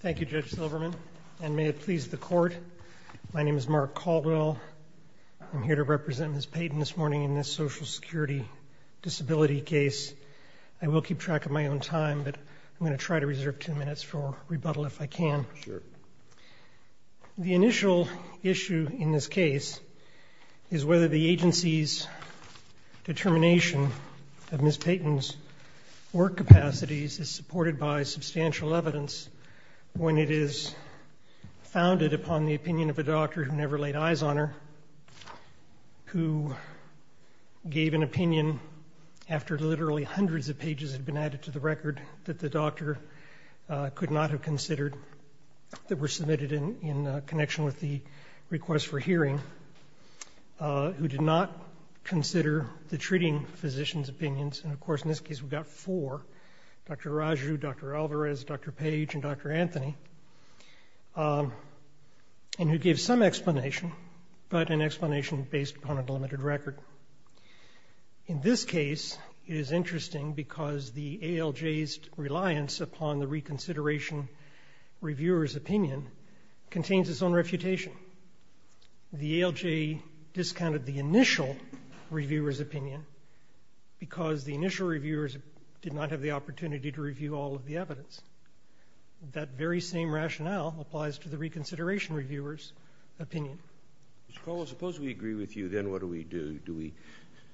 Thank you, Judge Silverman, and may it please the Court, my name is Mark Caldwell. I'm here to represent Ms. Payton this morning in this Social Security disability case. I will keep track of my own time, but I'm going to try to reserve two minutes for rebuttal if I can. The initial issue in this case is whether the agency's determination of Ms. Payton's work capacities is supported by substantial evidence when it is founded upon the opinion of a doctor who never laid eyes on her, who gave an opinion after literally hundreds of were submitted in connection with the request for hearing, who did not consider the treating physician's opinions, and of course in this case we've got four, Dr. Raju, Dr. Alvarez, Dr. Page, and Dr. Anthony, and who gave some explanation, but an explanation based upon a delimited record. In this case, it is interesting because the ALJ's reliance upon the reconsideration reviewer's opinion contains its own refutation. The ALJ discounted the initial reviewer's opinion because the initial reviewers did not have the opportunity to review all of the evidence. That very same rationale applies to the reconsideration reviewer's opinion. Mr. Caldwell, suppose we agree with you, then what do we do? Do we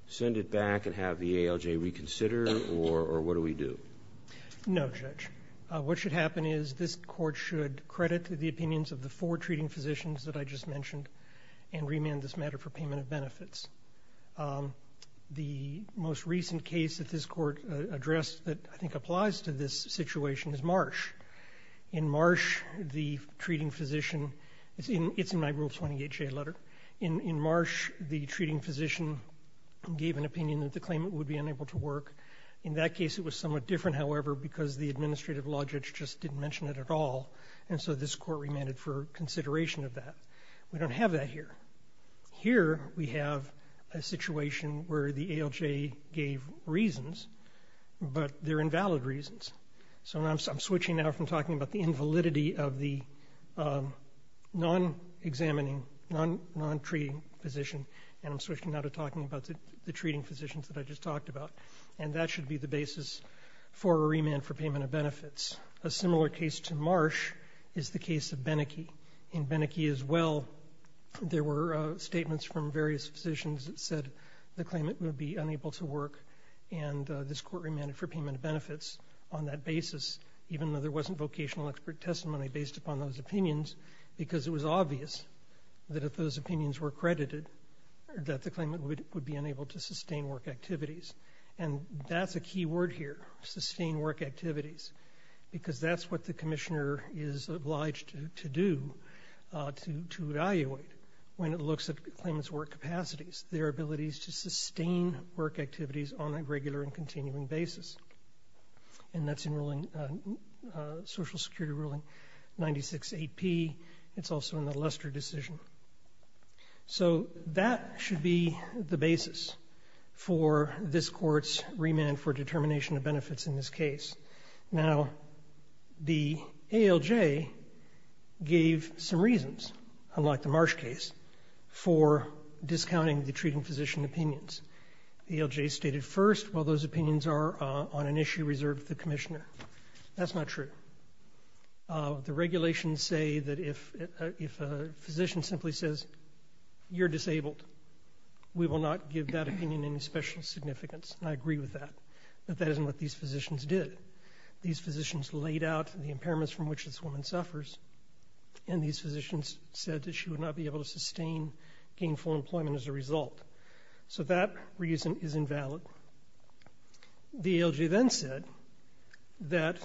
send it back and have the ALJ reconsider, or what do we do? No, Judge. What should happen is this court should credit the opinions of the four treating physicians that I just mentioned and remand this matter for payment of benefits. The most recent case that this court addressed that I think applies to this situation is Marsh. In Marsh, the treating physician, it's in my Rule 20HA letter, in Marsh the treating physician gave an opinion that the claimant would be unable to work. In that case it was somewhat different, however, because the administrative law judge just didn't mention it at all, and so this court remanded for consideration of that. We don't have that here. Here we have a situation where the ALJ gave reasons, but they're invalid reasons. So I'm switching now from talking about the invalidity of the non-examining, non-treating physician, and I'm switching now to talking about the treating physicians that I just talked about. And that should be the basis for a remand for payment of benefits. A similar case to Marsh is the case of Beneke. In Beneke as well, there were statements from various physicians that said the claimant would be unable to work, and this court remanded for payment of benefits on that basis, even though there wasn't vocational expert testimony based upon those opinions, because it was obvious that if those opinions were credited that the claimant would be unable to sustain work activities. And that's a key word here, sustain work activities, because that's what the commissioner is obliged to do, to evaluate when it looks at the claimant's work capacities, their abilities to sustain work activities on a regular and continuing basis. And that's in Social Security Ruling 96-8P. It's also in the Lester decision. So that should be the basis for this court's remand for determination of benefits in this case. Now, the ALJ gave some reasons, unlike the Marsh case, for discounting the treating physician opinions. The ALJ stated first, well, those opinions are on an issue reserved to the commissioner. That's not true. The regulations say that if a physician simply says, you're disabled, we will not give that opinion any special significance. And I agree with that, that that isn't what these physicians did. These physicians laid out the impairments from which this woman suffers, and these physicians said that she would not be able to sustain gainful employment as a result. So that reason is invalid. The ALJ then said that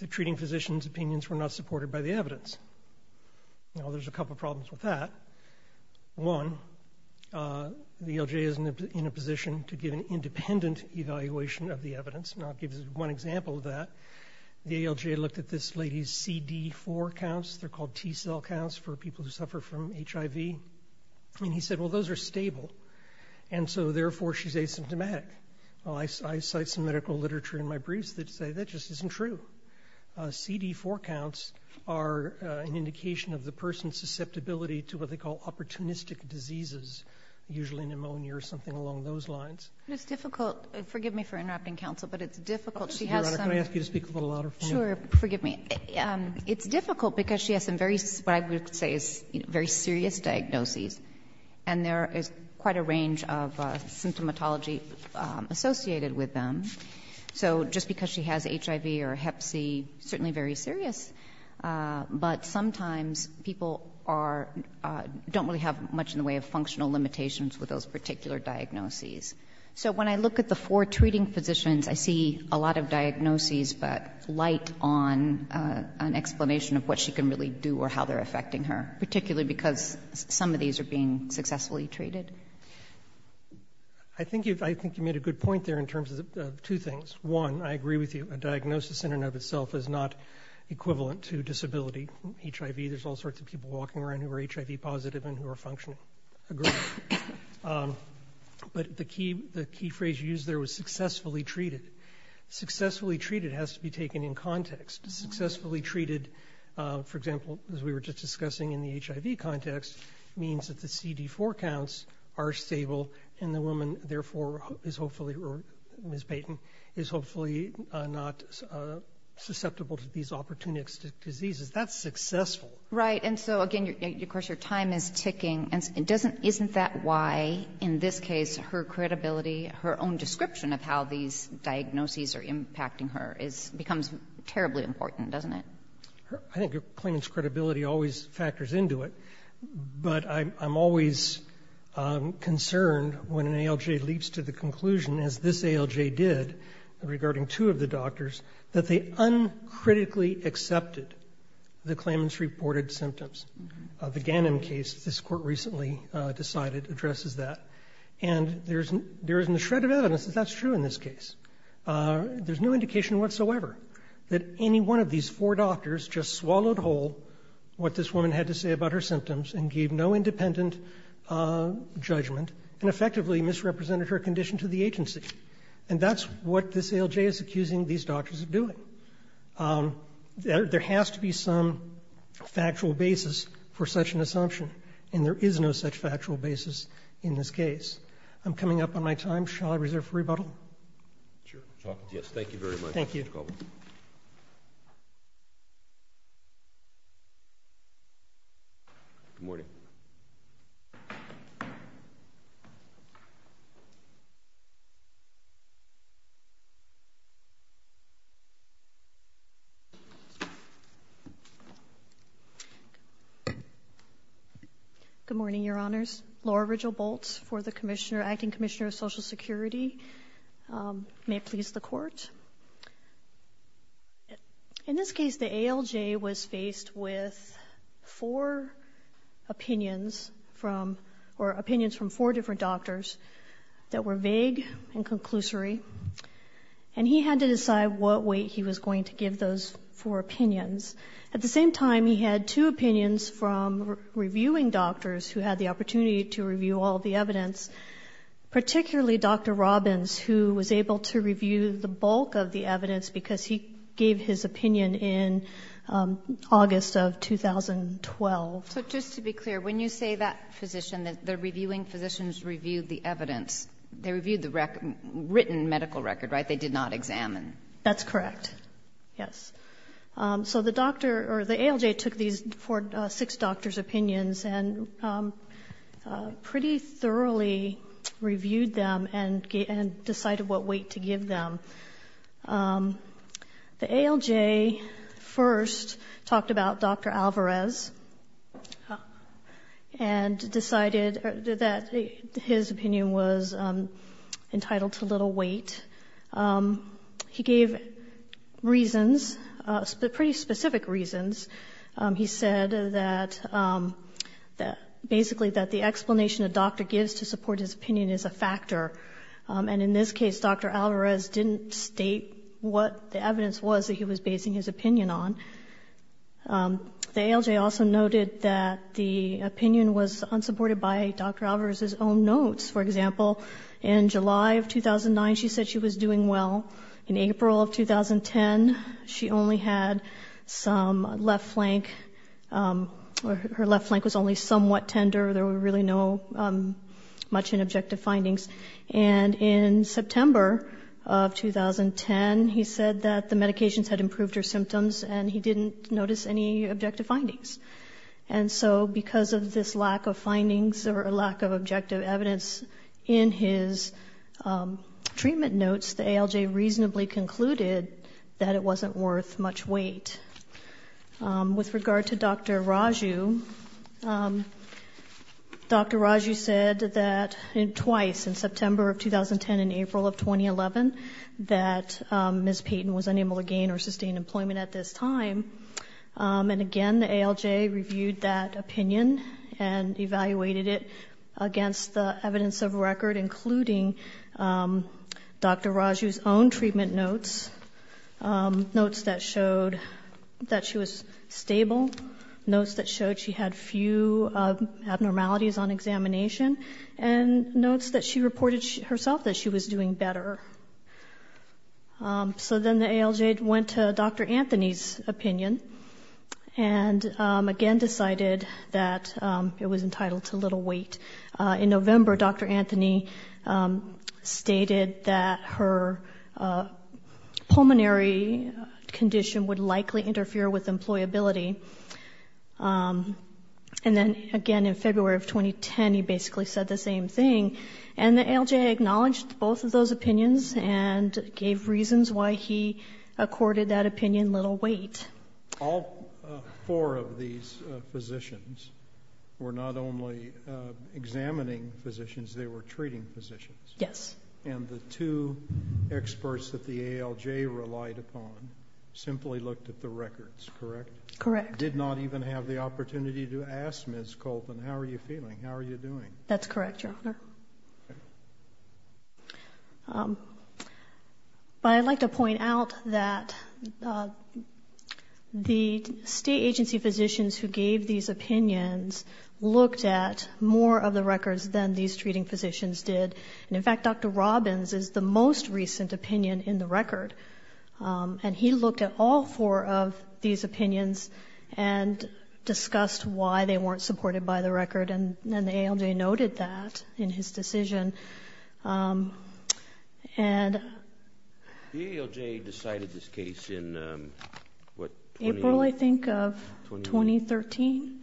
the treating physician's opinions were not supported by the evidence. Now, there's a couple problems with that. One, the ALJ is in a position to give an independent evaluation of the evidence. Now, I'll give you one example of that. The ALJ looked at this lady's CD4 counts. They're called T cell counts for people who suffer from HIV. And he said, well, those are stable. And so therefore, she's asymptomatic. Well, I cite some medical literature in my briefs that say that just isn't true. CD4 counts are an indication of the person's susceptibility to what they call opportunistic diseases, usually pneumonia or something along those lines. But it's difficult. Forgive me for interrupting, counsel, but it's difficult. She has some Can I ask you to speak a little louder for me? Sure. Forgive me. It's difficult because she has some very, what I would say is very serious diagnoses. And there is quite a range of symptomatology associated with them. So just because she has HIV or hep C, certainly very serious. But sometimes people don't really have much in the way of functional limitations with those particular diagnoses. So when I look at the four treating physicians, I see a lot of diagnoses but light on an explanation of what she can really do or how they're affecting her, particularly because some of these are being successfully treated. I think you've made a good point there in terms of two things. One, I agree with you that a diagnosis in and of itself is not equivalent to disability. HIV, there's all sorts of people walking around who are HIV positive and who are functional. I agree. But the key phrase you used there was successfully treated. Successfully treated has to be taken in context. Successfully treated, for example, as we were just discussing in the HIV context, means that the CD4 counts are stable and the woman therefore is hopefully, or Ms. Payton, is hopefully not susceptible to these opportunistic diseases. That's successful. Right. And so, again, of course, your time is ticking. Isn't that why, in this case, her credibility, her own description of how these diagnoses are impacting her becomes terribly important, doesn't it? I think your claimant's credibility always factors into it. But I'm always concerned when an ALJ leaps to the conclusion, as this ALJ did regarding two of the doctors, that they uncritically accepted the claimant's reported symptoms. The Ganim case, this Court recently decided, addresses that. And there isn't a shred of evidence that that's true in this case. There's no indication whatsoever that any one of these four doctors just swallowed whole what this woman had to say about her symptoms and gave no independent judgment and effectively misrepresented her condition to the agency. And that's what this ALJ is accusing these doctors of doing. There has to be some factual basis for such an assumption and there is no such factual basis in this case. I'm coming up on my time. Shall I reserve for rebuttal? Sure. Yes, thank you very much, Mr. Caldwell. Thank you. Good morning. Good morning, Your Honors. Laura Rigel-Boltz, Acting Commissioner of Social Security. May I please the Court? In this case, the ALJ was faced with four opinions from, or opinions from four different doctors that were vague and conclusory. And he had to decide what weight he was going to give those four opinions. At the same time, he had two opinions from reviewing doctors who had the opportunity to review all the evidence, particularly Dr. Caldwell. He reviewed the bulk of the evidence because he gave his opinion in August of 2012. So just to be clear, when you say that physician, the reviewing physicians reviewed the evidence, they reviewed the written medical record, right? They did not examine? That's correct. Yes. So the doctor, or the ALJ took these six doctors' opinions and pretty thoroughly reviewed them and decided what weight to give them. The ALJ first talked about Dr. Alvarez and decided that his opinion was entitled to little weight. He gave reasons, pretty specific reasons. He said that basically that the explanation a doctor gives to support his opinion is a factor. And in this case, Dr. Alvarez didn't state what the evidence was that he was basing his opinion on. The ALJ also noted that the opinion was unsupported by Dr. Alvarez's own notes. For example, in July of 2009, she said she was doing well. In April of 2010, she only had some left flank. Her left flank was only somewhat tender. There were really no much in objective findings. And in September of 2010, he said that the medications had improved her symptoms and he didn't notice any objective findings. And so because of this lack of findings or lack of objective evidence in his treatment notes, the ALJ reasonably concluded that it wasn't worth much weight. With regard to Dr. Raju, Dr. Raju said that twice, in September of 2010 and April of 2011, that Ms. Payton was unable to gain or sustain employment at this time. And again, the ALJ reviewed that opinion and evaluated it against the evidence of record, including Dr. Raju's own treatment notes, notes that showed that she was stable, notes that showed she had few abnormalities on examination, and notes that she reported herself that she was doing better. So then the ALJ went to Dr. Anthony's opinion and again decided that it was entitled to her, that her pulmonary condition would likely interfere with employability. And then again in February of 2010, he basically said the same thing. And the ALJ acknowledged both of those opinions and gave reasons why he accorded that opinion little weight. All four of these physicians were not only examining physicians, they were treating physicians. Yes. And the two experts that the ALJ relied upon simply looked at the records, correct? Correct. Did not even have the opportunity to ask Ms. Colton, how are you feeling, how are you doing? That's correct, Your Honor. But I'd like to point out that the state agency physicians who gave these opinions looked at more of the records than these treating physicians did. And in fact, Dr. Robbins is the most recent opinion in the record. And he looked at all four of these opinions and discussed why they weren't supported by the record. And the ALJ noted that in his decision. And The ALJ decided this case in, what, 20? April, I think, of 2013.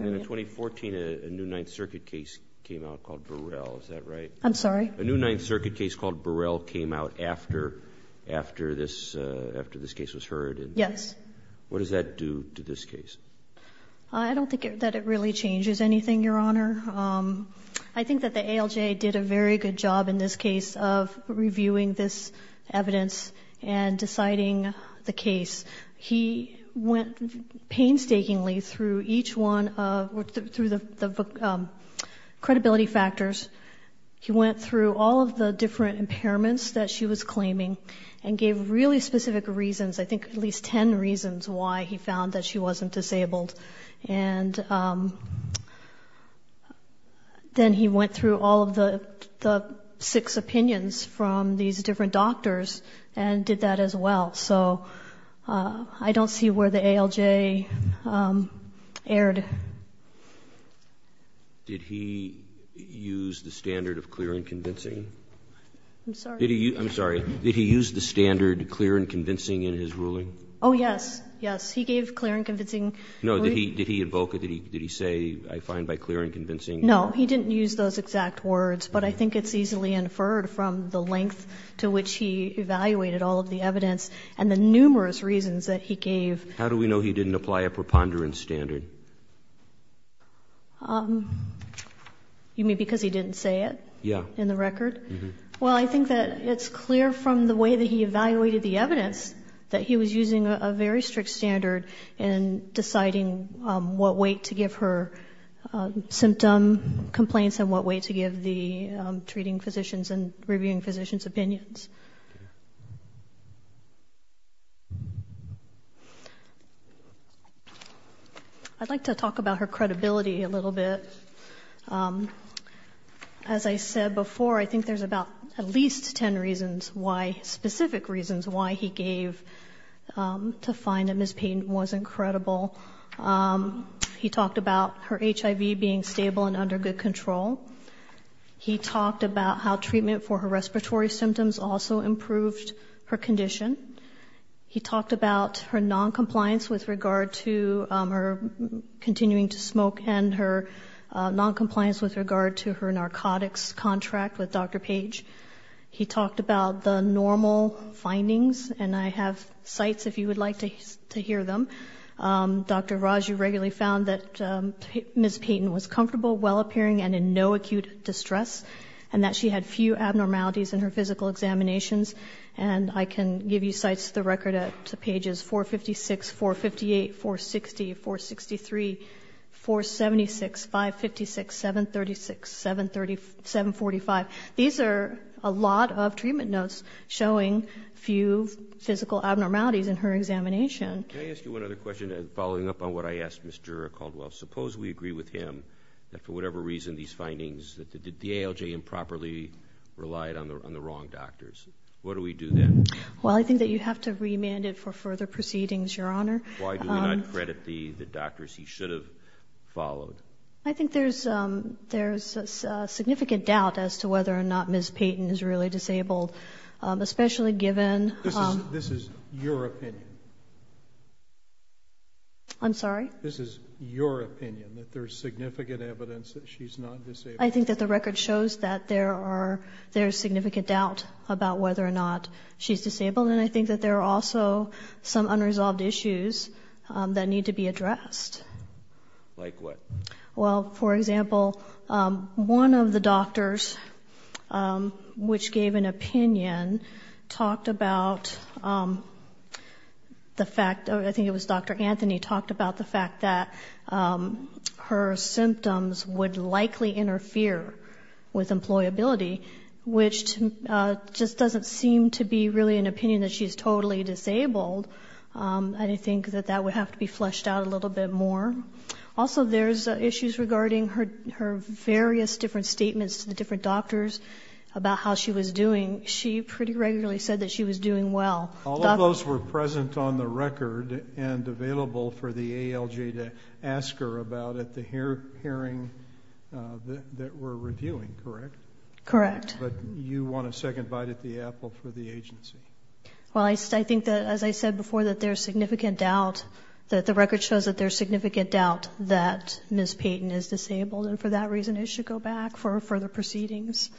And in 2014, a new Ninth Circuit case came out called Burrell, is that right? I'm sorry? A new Ninth Circuit case called Burrell came out after this case was heard. Yes. What does that do to this case? I don't think that it really changes anything, Your Honor. I think that the ALJ did a very good job in this case of reviewing this evidence and deciding the case. He went painstakingly through each one, through the credibility factors. He went through all of the different impairments that she was claiming and gave really specific reasons, I think at least ten reasons why he found that she wasn't disabled. And then he went through all of the six opinions from these different doctors and did that as well. So I don't see where the ALJ, the ALJ, is going to be in this case. Did he use the standard of clear and convincing? I'm sorry? I'm sorry. Did he use the standard clear and convincing in his ruling? Oh, yes. Yes. He gave clear and convincing. No. Did he invoke it? Did he say, I find by clear and convincing? No. He didn't use those exact words. But I think it's easily inferred from the length to which he evaluated all of the evidence and the numerous reasons that he gave. How do we know he didn't apply a preponderance standard? You mean because he didn't say it in the record? Yes. Well, I think that it's clear from the way that he evaluated the evidence that he was using a very strict standard in deciding what weight to give her symptom complaints and what weight to give the treating physicians and reviewing physicians' opinions. I'd like to talk about her credibility a little bit. As I said before, I think there's about at least 10 reasons why, specific reasons, why he gave to find that Ms. Payton was incredible. He talked about her HIV being stable and under good control. He talked about how treatment for her respiratory symptoms also improved her condition. He talked about her non-compliance with regard to her continuing to smoke and her non-compliance with regard to her narcotics contract with Dr. Page. He talked about the normal findings, and I have sites if you would like to hear them. Dr. Raju regularly found that Ms. Payton was comfortable, well-appearing, and in no acute distress, and that she had few abnormalities in her physical examinations. I can give you sites of the record at pages 456, 458, 460, 463, 476, 556, 736, 745. These are a lot of treatment notes showing few physical abnormalities in her examination. Can I ask you one other question? Following up on what I asked Mr. Caldwell, suppose we agree with him that for whatever reason these findings, that the ALJ improperly relied on the wrong doctors. What do we do then? Well, I think that you have to remand it for further proceedings, Your Honor. Why do we not credit the doctors he should have followed? I think there's significant doubt as to whether or not Ms. Payton is really disabled, especially given... This is your opinion. I'm sorry? This is your opinion, that there's significant evidence that she's not disabled. I think that the record shows that there are, there's significant doubt about whether or not she's disabled, and I think that there are also some unresolved issues that need to be addressed. Like what? Well, for example, one of the doctors, which gave an opinion, talked about the fact, I talked about the fact that her symptoms would likely interfere with employability, which just doesn't seem to be really an opinion that she's totally disabled. I think that that would have to be fleshed out a little bit more. Also there's issues regarding her various different statements to the different doctors about how she was doing. She pretty regularly said that she was doing well. All of those were present on the record and available for the ALJ to ask her about at the hearing that we're reviewing, correct? Correct. You want a second bite at the apple for the agency? Well, I think that, as I said before, that there's significant doubt, that the record shows that there's significant doubt that Ms. Payton is disabled, and for that reason it should go back for further proceedings.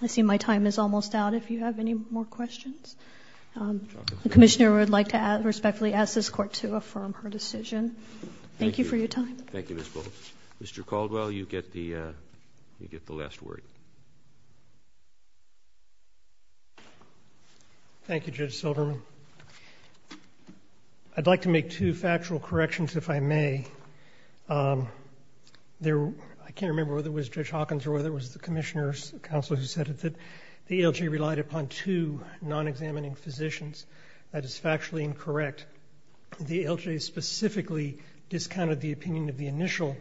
I see my time is almost out. If you have any more questions, the commissioner would like to respectfully ask this court to affirm her decision. Thank you for your time. Thank you, Ms. Bowles. Mr. Caldwell, you get the last word. Thank you, Judge Silverman. I'd like to make two factual corrections, if I may. I can't remember whether it was Judge Hawkins or whether it was the commissioner's counsel who said that the ALJ relied upon two non-examining physicians. That is factually incorrect. The ALJ specifically discounted the opinion of the initial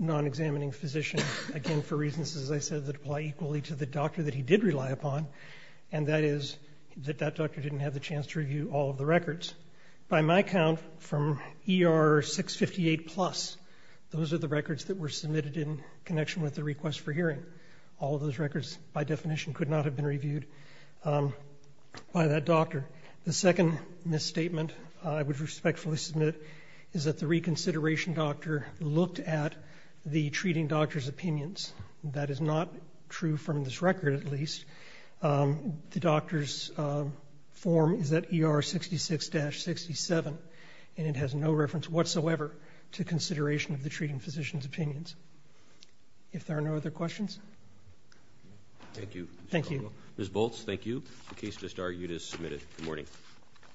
non-examining physician, again, for reasons, as I said, that apply equally to the doctor that he did rely upon, and that is that that doctor didn't have the chance to review all of the records. By my count from ER 658 plus, those are the records that were submitted in connection with the request for hearing. All of those records, by definition, could not have been reviewed by that doctor. The second misstatement I would respectfully submit is that the reconsideration doctor looked at the treating doctor's opinions. That is not true from this record, at least. The doctor's form is at ER 66-67, and it has no reference whatsoever to consideration of the treating physician's opinions. If there are no other questions? Thank you, Mr. Caldwell. Thank you. Ms. Bolts, thank you. The case just argued is submitted. Good morning.